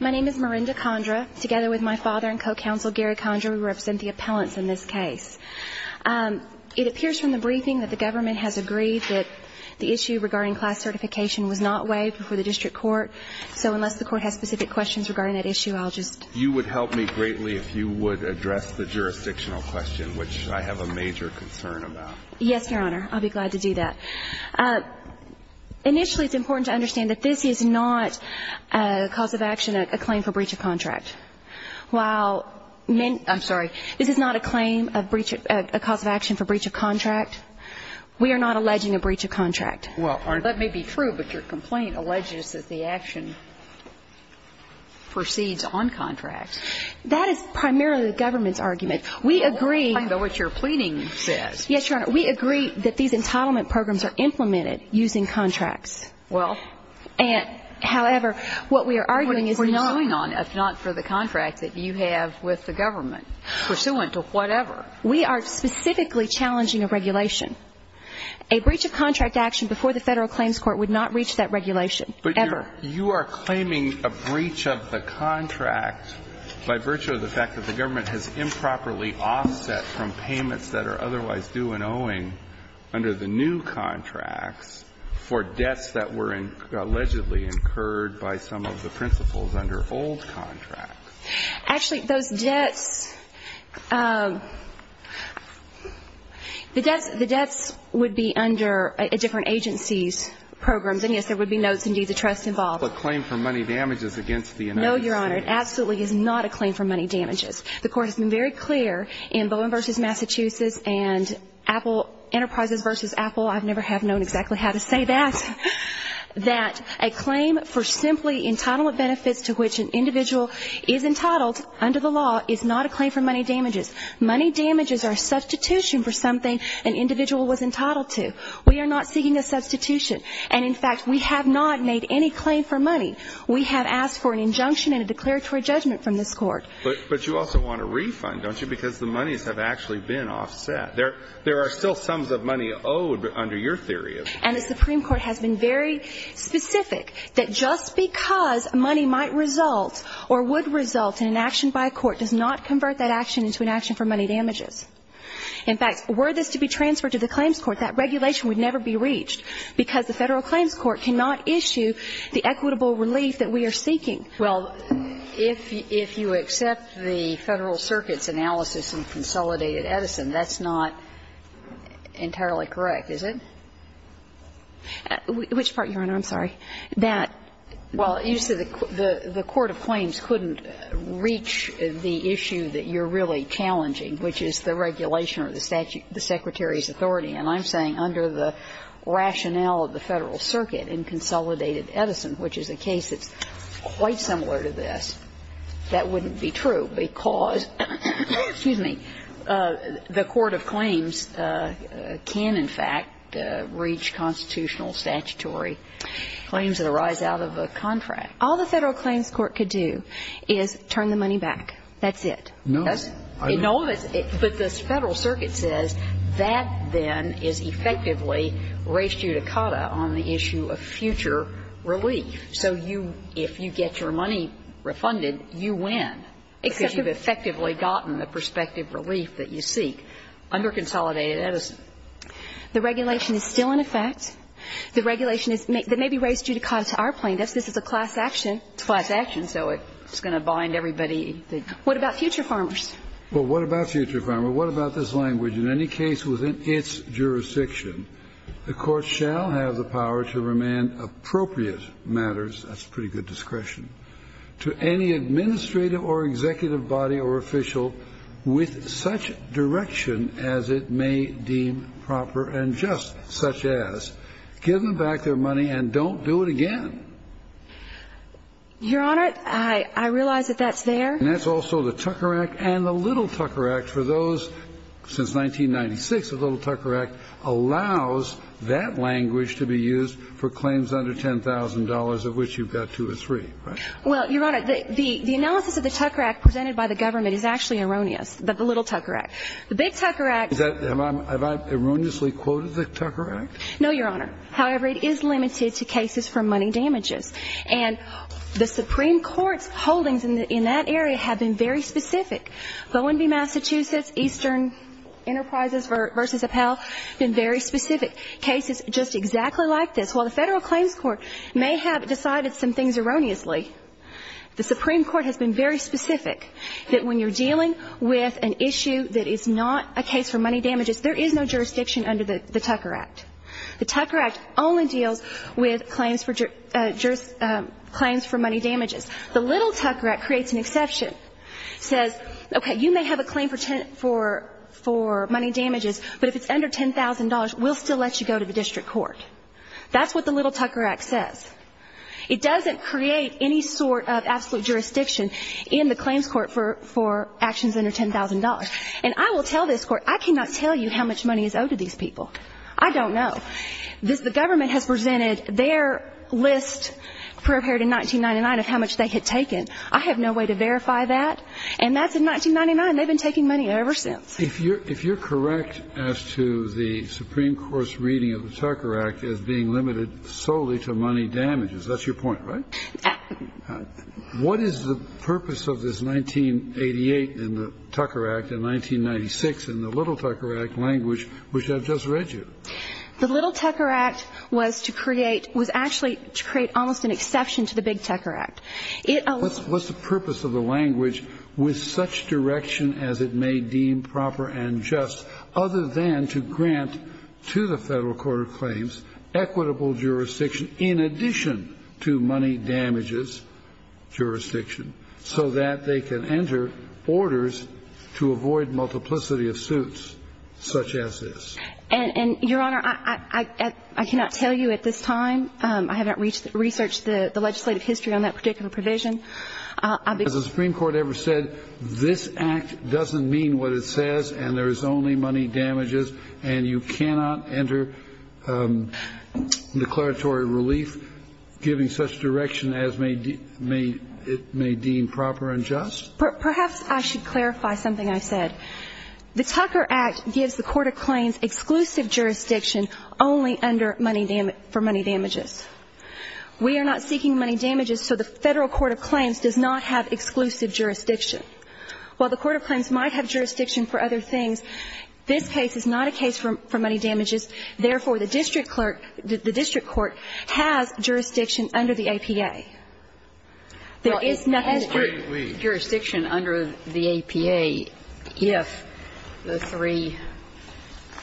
My name is Marinda Condra. Together with my father and co-counsel Gary Condra, we represent the appellants in this case. It appears from the briefing that the government has agreed that the issue regarding class certification was not waived before the district court. So unless the court has specific questions regarding that issue, I'll just… You would help me greatly if you would address the jurisdictional question, which I have a major concern about. Yes, Your Honor. I'll be glad to do that. Initially, it's important to understand that this is not a cause of action, a claim for breach of contract. While… I'm sorry. This is not a claim, a cause of action for breach of contract. We are not alleging a breach of contract. Well, that may be true, but your complaint alleges that the action proceeds on contract. That is primarily the government's argument. We agree… I know what your pleading says. Yes, Your Honor. We agree that these entitlement programs are implemented using contracts. Well… However, what we are arguing is that… What we're going on, if not for the contract that you have with the government, pursuant to whatever. We are specifically challenging a regulation. A breach of contract action before the Federal Claims Court would not reach that regulation, ever. But you are claiming a breach of the contract by virtue of the fact that the government has improperly offset from payments that are otherwise due and owing under the new contracts for debts that were allegedly incurred by some of the principals under old contracts. Actually, those debts, the debts would be under different agencies' programs. And yes, there would be notes and deeds of trust involved. It's not a claim for money damages against the United States. No, Your Honor. It absolutely is not a claim for money damages. The Court has been very clear in Bowen v. Massachusetts and Apple Enterprises v. Apple. I never have known exactly how to say that. That a claim for simply entitlement benefits to which an individual is entitled under the law is not a claim for money damages. Money damages are a substitution for something an individual was entitled to. We are not seeking a substitution. And, in fact, we have not made any claim for money. We have asked for an injunction and a declaratory judgment from this Court. But you also want a refund, don't you, because the monies have actually been offset. There are still sums of money owed under your theory. And the Supreme Court has been very specific that just because money might result or would result in an action by a court does not convert that action into an action for money damages. In fact, were this to be transferred to the Claims Court, that regulation would never be reached because the Federal Claims Court cannot issue the equitable relief that we are seeking. Well, if you accept the Federal Circuit's analysis in Consolidated Edison, that's not entirely correct, is it? Which part, Your Honor? I'm sorry. That. Well, you said the Court of Claims couldn't reach the issue that you're really challenging, which is the regulation or the statute, the Secretary's authority. And I'm saying under the rationale of the Federal Circuit in Consolidated Edison, which is a case that's quite similar to this, that wouldn't be true because the Court of Claims can, in fact, reach constitutional statutory claims that arise out of a contract. All the Federal Claims Court could do is turn the money back. That's it. No. But the Federal Circuit says that, then, is effectively res judicata on the issue of future relief. So you, if you get your money refunded, you win because you've effectively gotten the prospective relief that you seek under Consolidated Edison. The regulation is still in effect. The regulation is maybe res judicata to our plaintiffs. This is a class action. It's a class action, so it's going to bind everybody. What about future farmers? Well, what about future farmers? What about this language? In any case within its jurisdiction, the Court shall have the power to remand appropriate matters. That's pretty good discretion. To any administrative or executive body or official with such direction as it may deem proper and just, such as, give them back their money and don't do it again. Your Honor, I realize that that's there. And that's also the Tucker Act and the Little Tucker Act. For those since 1996, the Little Tucker Act allows that language to be used for claims under $10,000, of which you've got two or three, right? Well, Your Honor, the analysis of the Tucker Act presented by the government is actually erroneous, the Little Tucker Act. The Big Tucker Act. Have I erroneously quoted the Tucker Act? No, Your Honor. However, it is limited to cases for money damages. And the Supreme Court's holdings in that area have been very specific. Bowen v. Massachusetts, Eastern Enterprises v. Appel, been very specific. Cases just exactly like this. While the Federal Claims Court may have decided some things erroneously, the Supreme Court has been very specific that when you're dealing with an issue that is not a case for money damages, there is no jurisdiction under the Tucker Act. The Tucker Act only deals with claims for money damages. The Little Tucker Act creates an exception. It says, okay, you may have a claim for money damages, but if it's under $10,000, we'll still let you go to the district court. That's what the Little Tucker Act says. It doesn't create any sort of absolute jurisdiction in the claims court for actions under $10,000. And I will tell this Court, I cannot tell you how much money is owed to these people. I don't know. The government has presented their list prepared in 1999 of how much they had taken. I have no way to verify that. And that's in 1999. They've been taking money ever since. If you're correct as to the Supreme Court's reading of the Tucker Act as being limited solely to money damages, that's your point, right? What is the purpose of this 1988 in the Tucker Act and 1996 in the Little Tucker Act language, which I've just read you? The Little Tucker Act was to create almost an exception to the Big Tucker Act. What's the purpose of the language with such direction as it may deem proper and just other than to grant to the Federal Court of Claims equitable jurisdiction in addition to money damages jurisdiction so that they can enter orders to avoid multiplicity of suits such as this? And, Your Honor, I cannot tell you at this time. I haven't researched the legislative history on that particular provision. Has the Supreme Court ever said this act doesn't mean what it says and there is only money damages and you cannot enter declaratory relief giving such direction as it may deem proper and just? Perhaps I should clarify something I said. The Tucker Act gives the Court of Claims exclusive jurisdiction only under money damages for money damages. We are not seeking money damages so the Federal Court of Claims does not have exclusive jurisdiction. While the Court of Claims might have jurisdiction for other things, this case is not a case for money damages. Therefore, the district clerk, the district court has jurisdiction under the APA. There is jurisdiction under the APA if the three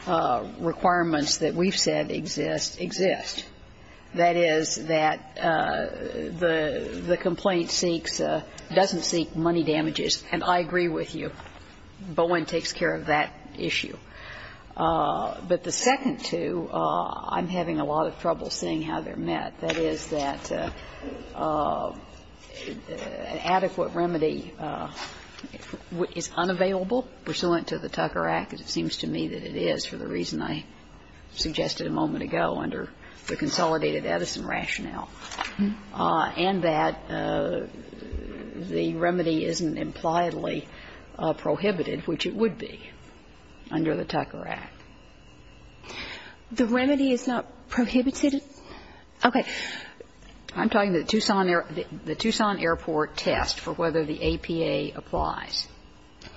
requirements that we've said exist, exist. That is, that the complaint seeks or doesn't seek money damages. And I agree with you. Bowen takes care of that issue. But the second two, I'm having a lot of trouble seeing how they're met. That is, that an adequate remedy is unavailable pursuant to the Tucker Act, as it seems to me that it is for the reason I suggested a moment ago under the consolidated Edison rationale, and that the remedy isn't impliedly prohibited, which it would be under the Tucker Act. The remedy is not prohibited? Okay. I'm talking about the Tucson Airport test for whether the APA applies.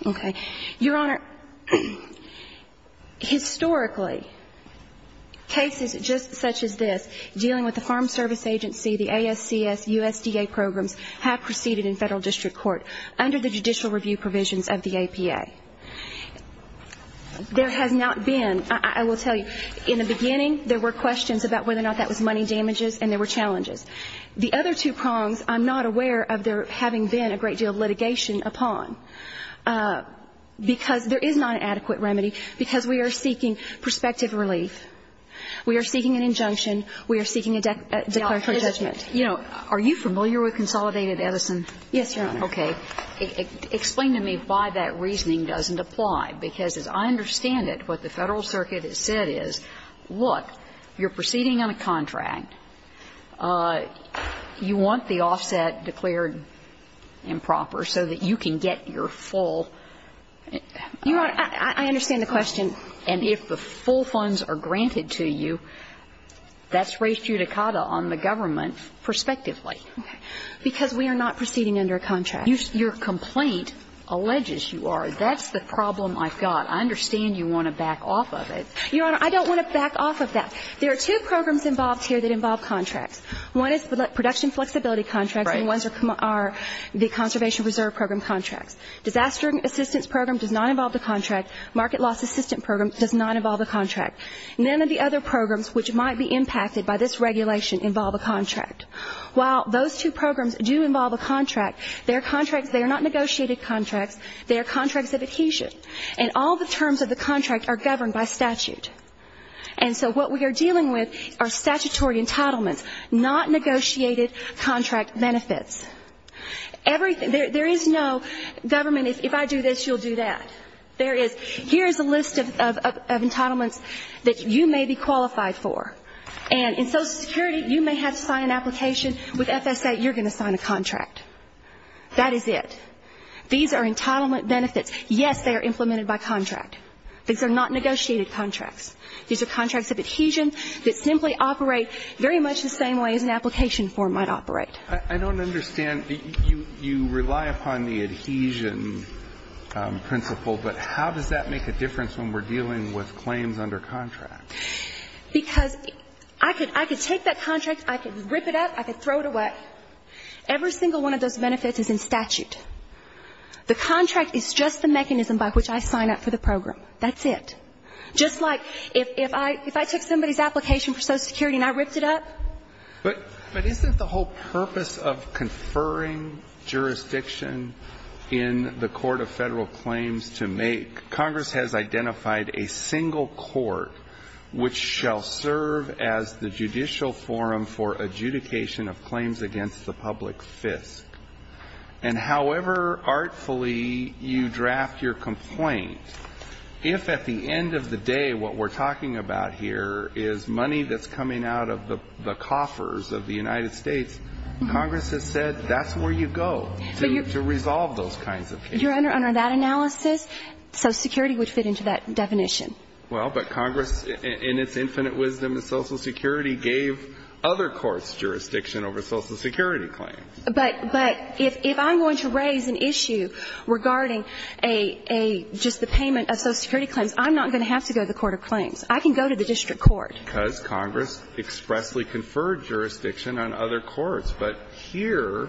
Okay. Your Honor, historically, cases just such as this dealing with the Farm Service Agency, the ASCS, USDA programs have proceeded in Federal district court under the judicial review provisions of the APA. There has not been, I will tell you, in the beginning there were questions about whether or not that was money damages and there were challenges. The other two prongs, I'm not aware of there having been a great deal of litigation upon, because there is not an adequate remedy, because we are seeking prospective relief. We are seeking an injunction. We are seeking a declaration of judgment. You know, are you familiar with consolidated Edison? Yes, Your Honor. Okay. Explain to me why that reasoning doesn't apply, because as I understand it, what the Federal Circuit has said is, look, you're proceeding on a contract, you want the offset declared improper so that you can get your full. Your Honor, I understand the question. And if the full funds are granted to you, that's res judicata on the government prospectively. Okay. Because we are not proceeding under a contract. Your complaint alleges you are. That's the problem I've got. I understand you want to back off of it. Your Honor, I don't want to back off of that. There are two programs involved here that involve contracts. One is production flexibility contracts. Right. And ones are the conservation reserve program contracts. Disaster assistance program does not involve a contract. Market loss assistance program does not involve a contract. None of the other programs which might be impacted by this regulation involve a contract. While those two programs do involve a contract, they are contracts, they are not negotiated contracts. They are contracts of adhesion. And all the terms of the contract are governed by statute. And so what we are dealing with are statutory entitlements, not negotiated contract benefits. There is no government, if I do this, you'll do that. There is. Here is a list of entitlements that you may be qualified for. And in Social Security, you may have to sign an application. With FSA, you're going to sign a contract. That is it. These are entitlement benefits. Yes, they are implemented by contract. These are not negotiated contracts. These are contracts of adhesion that simply operate very much the same way as an application form might operate. I don't understand. You rely upon the adhesion principle. But how does that make a difference when we're dealing with claims under contract? Because I could take that contract, I could rip it up, I could throw it away. Every single one of those benefits is in statute. The contract is just the mechanism by which I sign up for the program. That's it. Just like if I took somebody's application for Social Security and I ripped it up. But isn't the whole purpose of conferring jurisdiction in the Court of Federal Claims to make Congress has identified a single court which shall serve as the judicial forum for adjudication of claims against the public fisc. And however artfully you draft your complaint, if at the end of the day what we're talking about here is money that's coming out of the coffers of the United States, Congress has said that's where you go to resolve those kinds of cases. Your Honor, under that analysis, Social Security would fit into that definition. Well, but Congress in its infinite wisdom of Social Security gave other courts jurisdiction over Social Security claims. But if I'm going to raise an issue regarding just the payment of Social Security claims, I'm not going to have to go to the Court of Claims. I can go to the district court. Because Congress expressly conferred jurisdiction on other courts. But here,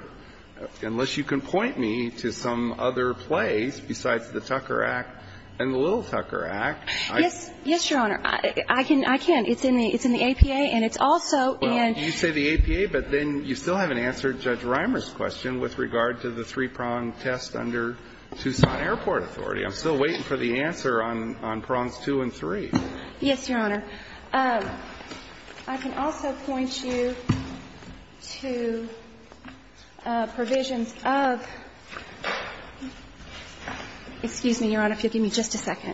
unless you can point me to some other place besides the Tucker Act and the Little Tucker Act, I can't. Yes, Your Honor. I can. It's in the APA, and it's also in the APA. But then you still haven't answered Judge Reimer's question with regard to the three-prong test under Tucson Airport Authority. I'm still waiting for the answer on prongs two and three. Yes, Your Honor. I can also point you to provisions of – excuse me, Your Honor, if you'll give me just a second.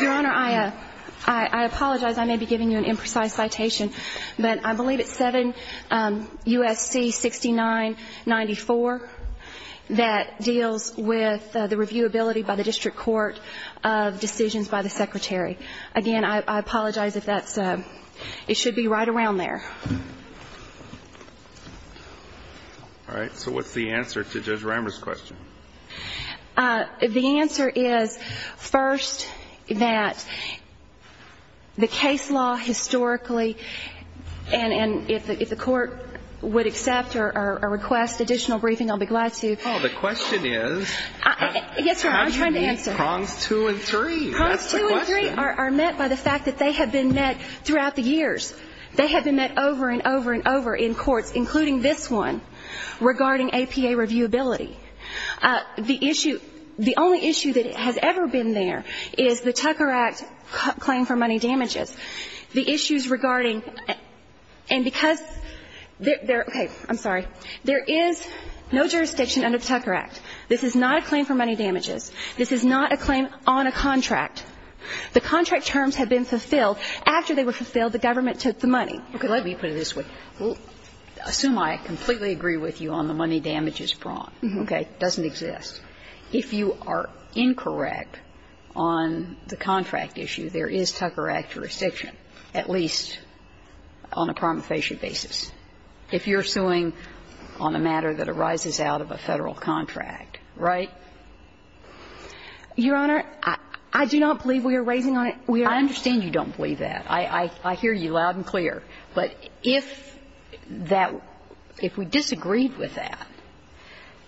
Your Honor, I apologize. I may be giving you an imprecise citation. But I believe it's 7 U.S.C. 6994 that deals with the reviewability by the district court of decisions by the Secretary. Again, I apologize if that's – it should be right around there. All right. So what's the answer to Judge Reimer's question? The answer is, first, that the case law historically – and if the court would accept or request additional briefing, I'll be glad to. Paul, the question is – Yes, Your Honor, I'm trying to answer. How do you meet prongs two and three? That's the question. Prongs two and three are met by the fact that they have been met throughout the years. They have been met over and over and over in courts, including this one, regarding APA reviewability. The issue – the only issue that has ever been there is the Tucker Act claim for money damages. The issues regarding – and because – okay. I'm sorry. There is no jurisdiction under the Tucker Act. This is not a claim for money damages. This is not a claim on a contract. The contract terms have been fulfilled. After they were fulfilled, the government took the money. Okay. Let me put it this way. We'll assume I completely agree with you on the money damages prong. Okay. It doesn't exist. If you are incorrect on the contract issue, there is Tucker Act jurisdiction, at least on a promulgation basis. If you're suing on a matter that arises out of a Federal contract, right? Your Honor, I do not believe we are raising on it. I understand you don't believe that. I hear you loud and clear. But if that – if we disagreed with that,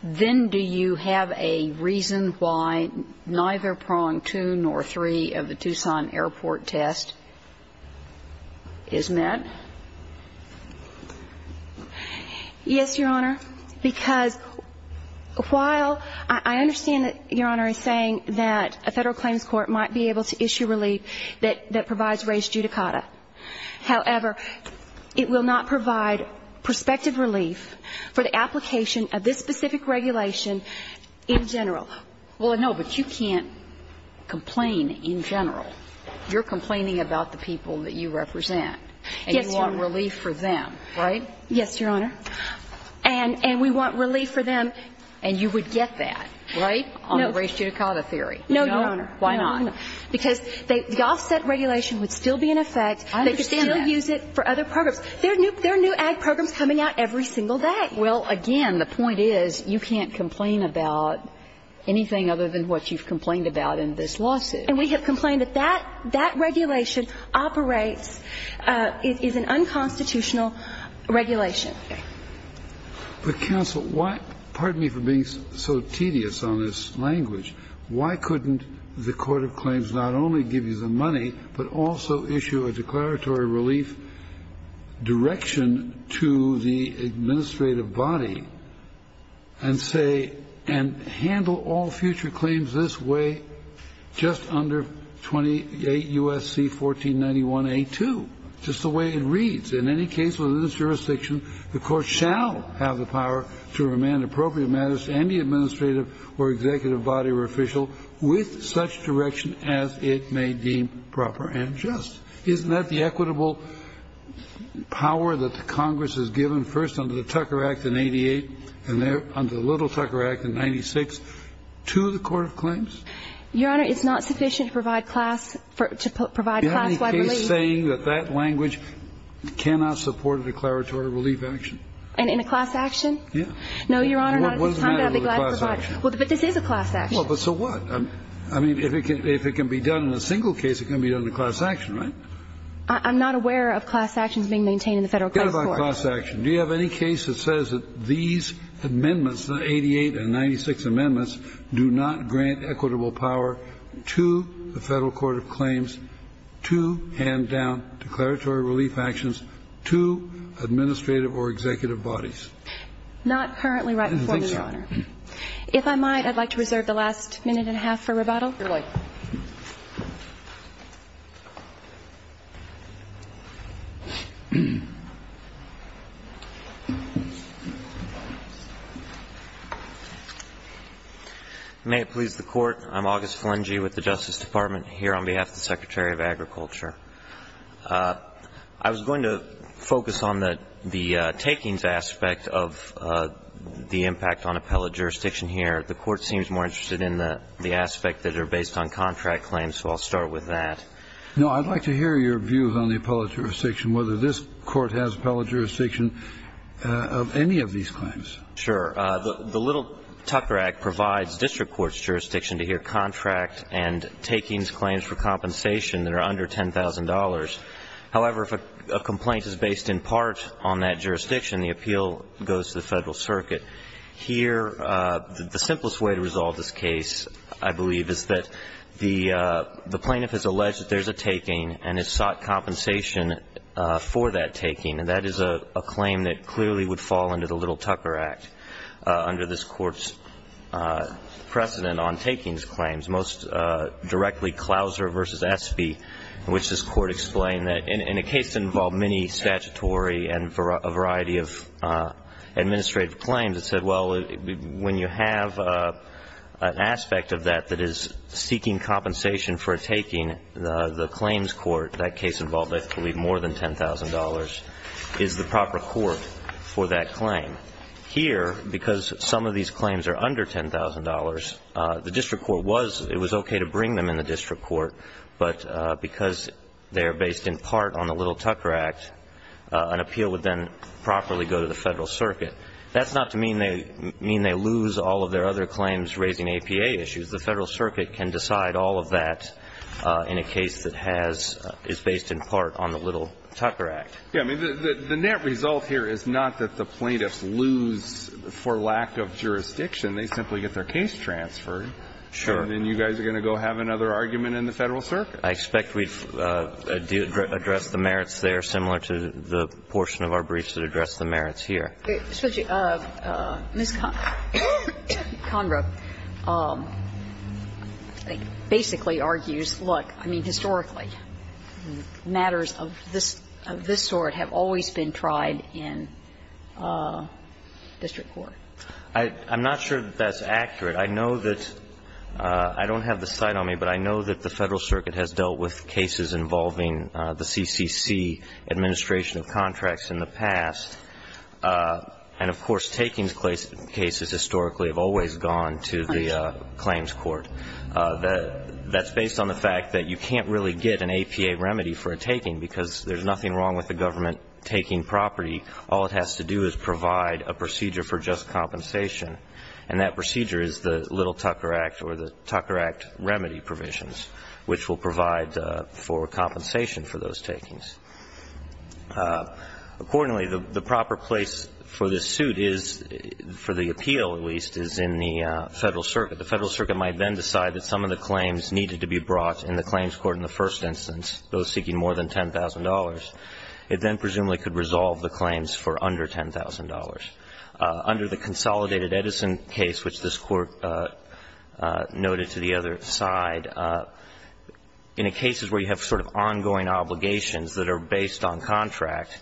then do you have a reason why neither prong two nor three of the Tucson Airport test is met? Yes, Your Honor, because while I understand that Your Honor is saying that a Federal claims court might be able to issue relief that provides raised judicata. However, it will not provide prospective relief for the application of this specific regulation in general. Well, no, but you can't complain in general. You're complaining about the people that you represent. Yes, Your Honor. And you want relief for them, right? Yes, Your Honor. And we want relief for them. And you would get that, right? No. On the raised judicata theory. No, Your Honor. Why not? Because the offset regulation would still be in effect. I understand that. They could still use it for other programs. There are new ag programs coming out every single day. Well, again, the point is you can't complain about anything other than what you've complained about in this lawsuit. And we have complained that that regulation operates – is an unconstitutional regulation. Okay. But, counsel, why – pardon me for being so tedious on this language. Why couldn't the court of claims not only give you the money, but also issue a declaratory relief direction to the administrative body and say – and handle all future claims this way just under 28 U.S.C. 1491a2, just the way it reads. In any case within this jurisdiction, the court shall have the power to remand appropriate matters to any administrative or executive body or official with such direction as it may deem proper and just. Isn't that the equitable power that the Congress has given first under the Tucker Act in 88 and then under the Little Tucker Act in 96 to the court of claims? Your Honor, it's not sufficient to provide class – to provide class-wide relief. In any case saying that that language cannot support a declaratory relief action. And in a class action? Yeah. No, Your Honor, not at this time. What's the matter with a class action? Well, but this is a class action. Well, but so what? I mean, if it can be done in a single case, it can be done in a class action, right? I'm not aware of class actions being maintained in the Federal court of claims. Forget about class action. Do you have any case that says that these amendments, 88 and 96 amendments, do not grant equitable power to the Federal court of claims to hand down declaratory relief actions to administrative or executive bodies? Not currently right before me, Your Honor. I didn't think so. If I might, I'd like to reserve the last minute and a half for rebuttal. Certainly. May it please the Court. I'm August Flengey with the Justice Department here on behalf of the Secretary of Agriculture. I was going to focus on the takings aspect of the impact on appellate jurisdiction here. The Court seems more interested in the aspect that are based on contract claims, so I'll start with that. No, I'd like to hear your views on the appellate jurisdiction, whether this Court has appellate jurisdiction of any of these claims. Sure. The Little Tucker Act provides district court's jurisdiction to hear contract and takings claims for compensation that are under $10,000. However, if a complaint is based in part on that jurisdiction, the appeal goes to the Federal circuit. Here, the simplest way to resolve this case, I believe, is that the plaintiff has alleged that there's a taking and has sought compensation for that taking, and that is a claim that clearly would fall under the Little Tucker Act under this Court's precedent on takings claims, most directly Clouser v. Espy, in which this Court explained that in a case that involved many statutory and a variety of administrative claims, it said, well, when you have an aspect of that that is seeking compensation for a taking, the claims court, that case involved, I believe, more than $10,000 is the proper court for that claim. Here, because some of these claims are under $10,000, the district court was, it was okay to bring them in the district court, but because they are based in part on the Little Tucker Act, an appeal would then properly go to the Federal circuit. That's not to mean they lose all of their other claims raising APA issues. The Federal circuit can decide all of that in a case that has, is based in part on the Little Tucker Act. Yeah. I mean, the net result here is not that the plaintiffs lose for lack of jurisdiction. They simply get their case transferred. Sure. And then you guys are going to go have another argument in the Federal circuit. I expect we've addressed the merits there, similar to the portion of our briefs that addressed the merits here. Ms. Conroe basically argues, look, I mean, historically, matters of this sort of always been tried in district court. I'm not sure that that's accurate. I know that, I don't have the site on me, but I know that the Federal circuit has dealt with cases involving the CCC administration of contracts in the past. And, of course, takings cases historically have always gone to the claims court. That's based on the fact that you can't really get an APA remedy for a taking because there's nothing wrong with the government taking property. All it has to do is provide a procedure for just compensation, and that procedure is the Little Tucker Act or the Tucker Act remedy provisions, which will provide for compensation for those takings. Accordingly, the proper place for this suit is, for the appeal at least, is in the Federal circuit. The Federal circuit might then decide that some of the claims needed to be brought in the claims court in the first instance, those seeking more than $10,000, it then presumably could resolve the claims for under $10,000. Under the consolidated Edison case, which this Court noted to the other side, in cases where you have sort of ongoing obligations that are based on contract,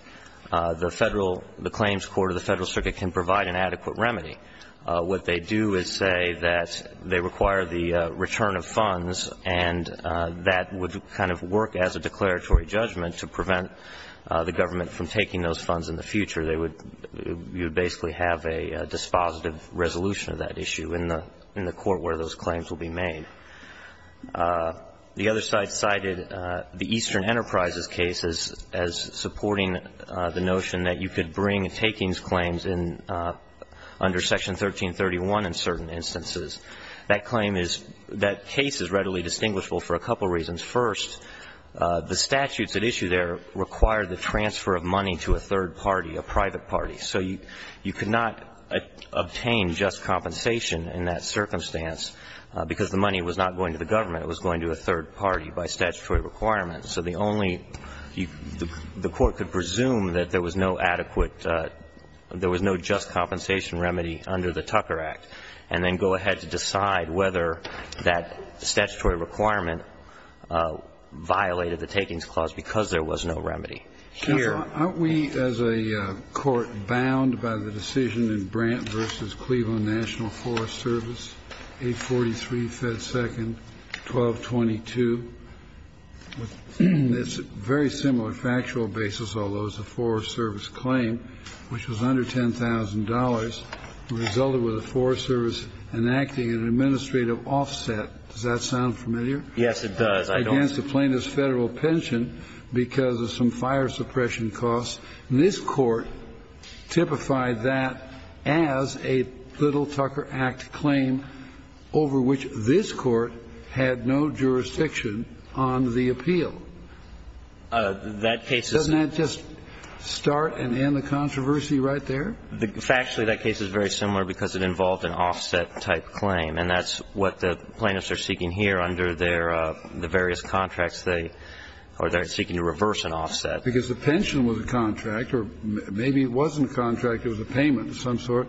the Federal the claims court or the Federal circuit can provide an adequate remedy. What they do is say that they require the return of funds, and that would kind of work as a declaratory judgment to prevent the government from taking those funds in the future. They would basically have a dispositive resolution of that issue in the court where those claims will be made. The other side cited the Eastern Enterprises case as supporting the notion that you could bring takings claims under section 1331 in certain instances. That claim is that case is readily distinguishable for a couple of reasons. First, the statutes at issue there require the transfer of money to a third party, a private party. So you could not obtain just compensation in that circumstance because the money was not going to the government. It was going to a third party by statutory requirements. So the only you the court could presume that there was no adequate, there was no just compensation remedy under the Tucker Act, and then go ahead to decide whether that statutory requirement violated the takings clause because there was no remedy. Kennedy. Aren't we as a court bound by the decision in Brant v. Cleveland National Forest Service, 843 Fed Second, 1222? It's a very similar factual basis, although it's a Forest Service claim, which was under $10,000. It resulted with the Forest Service enacting an administrative offset. Does that sound familiar? Yes, it does. Against the plaintiff's Federal pension because of some fire suppression costs. And this Court typified that as a little Tucker Act claim over which this Court had no jurisdiction on the appeal. That case is. Doesn't that just start and end the controversy right there? Factually, that case is very similar because it involved an offset-type claim. And that's what the plaintiffs are seeking here under their various contracts. They are seeking to reverse an offset. Because the pension was a contract or maybe it wasn't a contract. It was a payment of some sort.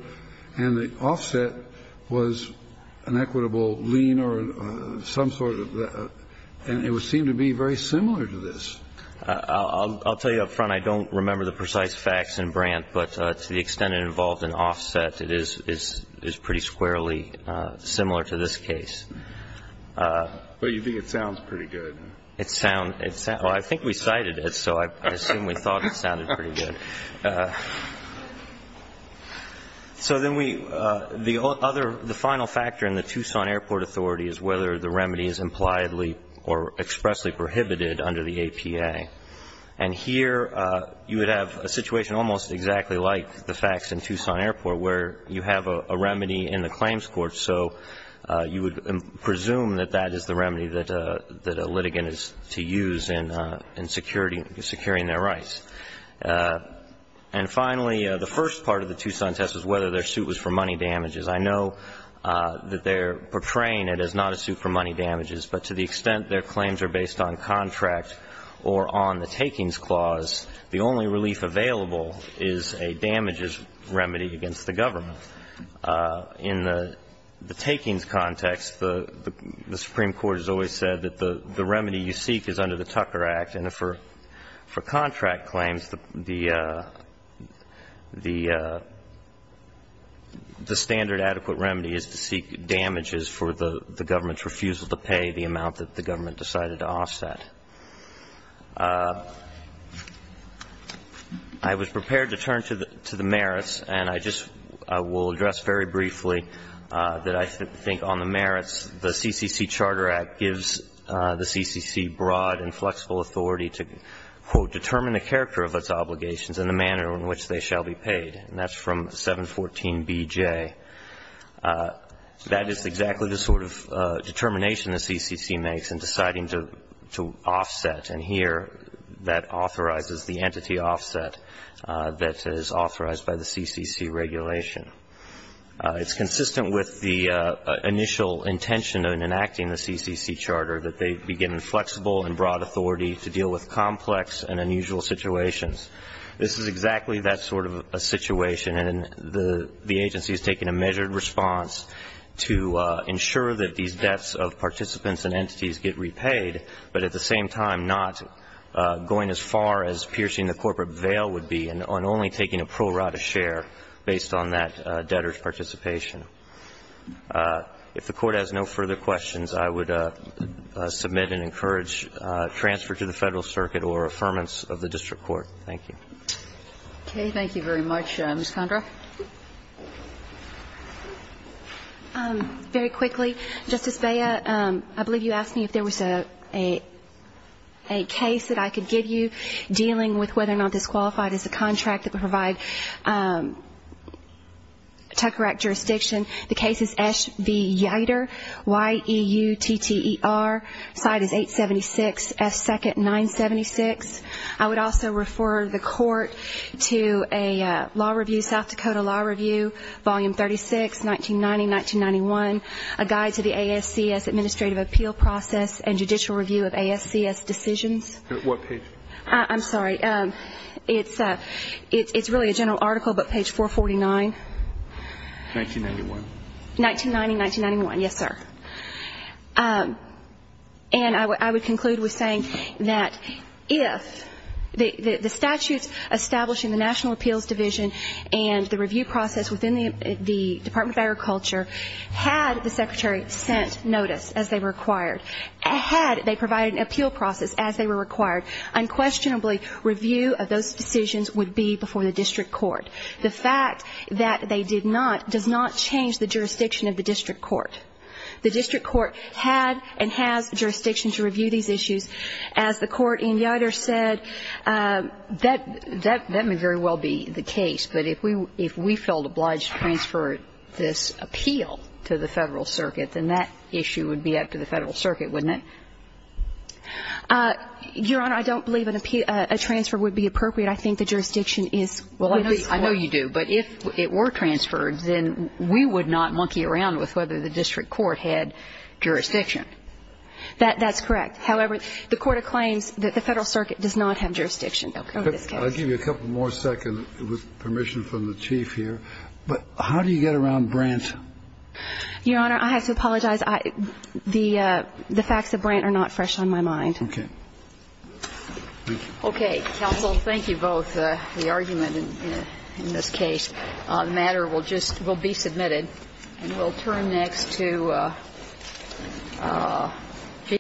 And the offset was an equitable lien or some sort of that. And it would seem to be very similar to this. I'll tell you up front, I don't remember the precise facts in Brant, but to the extent it involved an offset, it is pretty squarely similar to this case. But you think it sounds pretty good. It sounds. Well, I think we cited it, so I assume we thought it sounded pretty good. So then we, the other, the final factor in the Tucson Airport Authority is whether the remedy is impliedly or expressly prohibited under the APA. And here you would have a situation almost exactly like the facts in Tucson Airport where you have a remedy in the claims court, so you would presume that that is the remedy that the government is seeking to use in securing their rights. And finally, the first part of the Tucson test was whether their suit was for money damages. I know that they are portraying it as not a suit for money damages, but to the extent their claims are based on contract or on the takings clause, the only relief available is a damages remedy against the government. In the takings context, the Supreme Court has always said that the remedy you seek is under the Tucker Act, and for contract claims, the standard adequate remedy is to seek damages for the government's refusal to pay the amount that the government decided to offset. I was prepared to turn to the merits, and I just will address very briefly that I think on the merits, the CCC Charter Act gives the CCC broad and flexible authority to, quote, determine the character of its obligations and the manner in which they shall be paid. And that's from 714BJ. That is exactly the sort of determination the CCC makes in deciding to offset. And here, that authorizes the entity offset that is authorized by the CCC regulation. It's consistent with the initial intention in enacting the CCC Charter, that they begin in flexible and broad authority to deal with complex and unusual situations. This is exactly that sort of a situation, and the agency is taking a measured response to ensure that these debts of participants and entities get repaid, but at the same time not going as far as piercing the corporate veil would be and only taking a pro rata share based on that debtor's participation. If the Court has no further questions, I would submit and encourage transfer to the Court. Thank you. Okay. Thank you very much. Ms. Condra. Very quickly, Justice Beyer, I believe you asked me if there was a case that I could give you dealing with whether or not disqualified is a contract that would provide Tucker Act jurisdiction. The case is Esch v. Yeider, Y-E-U-T-T-E-R. Side is 876, S second, 976. I would also refer the Court to a law review, South Dakota Law Review, Volume 36, 1990-1991, A Guide to the ASCS Administrative Appeal Process and Judicial Review of ASCS Decisions. What page? I'm sorry. It's really a general article, but page 449. 1991. 1990-1991, yes, sir. And I would conclude with saying that if the statutes established in the National Appeals Division and the review process within the Department of Agriculture had the Secretary sent notice as they were required, had they provided an appeal process as they were required, unquestionably review of those decisions would be before the district court. The fact that they did not does not change the jurisdiction of the district court. The district court had and has jurisdiction to review these issues. As the Court in Yeider said, that may very well be the case, but if we felt obliged to transfer this appeal to the Federal Circuit, then that issue would be up to the Federal Circuit, wouldn't it? Your Honor, I don't believe an appeal, a transfer would be appropriate. I think the jurisdiction is. Well, I know you do, but if it were transferred, then we would not monkey around with whether the district court had jurisdiction. That's correct. However, the Court of Claims, the Federal Circuit does not have jurisdiction over this case. I'll give you a couple more seconds with permission from the Chief here. But how do you get around Brandt? Your Honor, I have to apologize. The facts of Brandt are not fresh on my mind. Okay. Thank you. Okay. Counsel, thank you both for the argument in this case. The matter will just be submitted. And we'll turn next to Justice Breyer.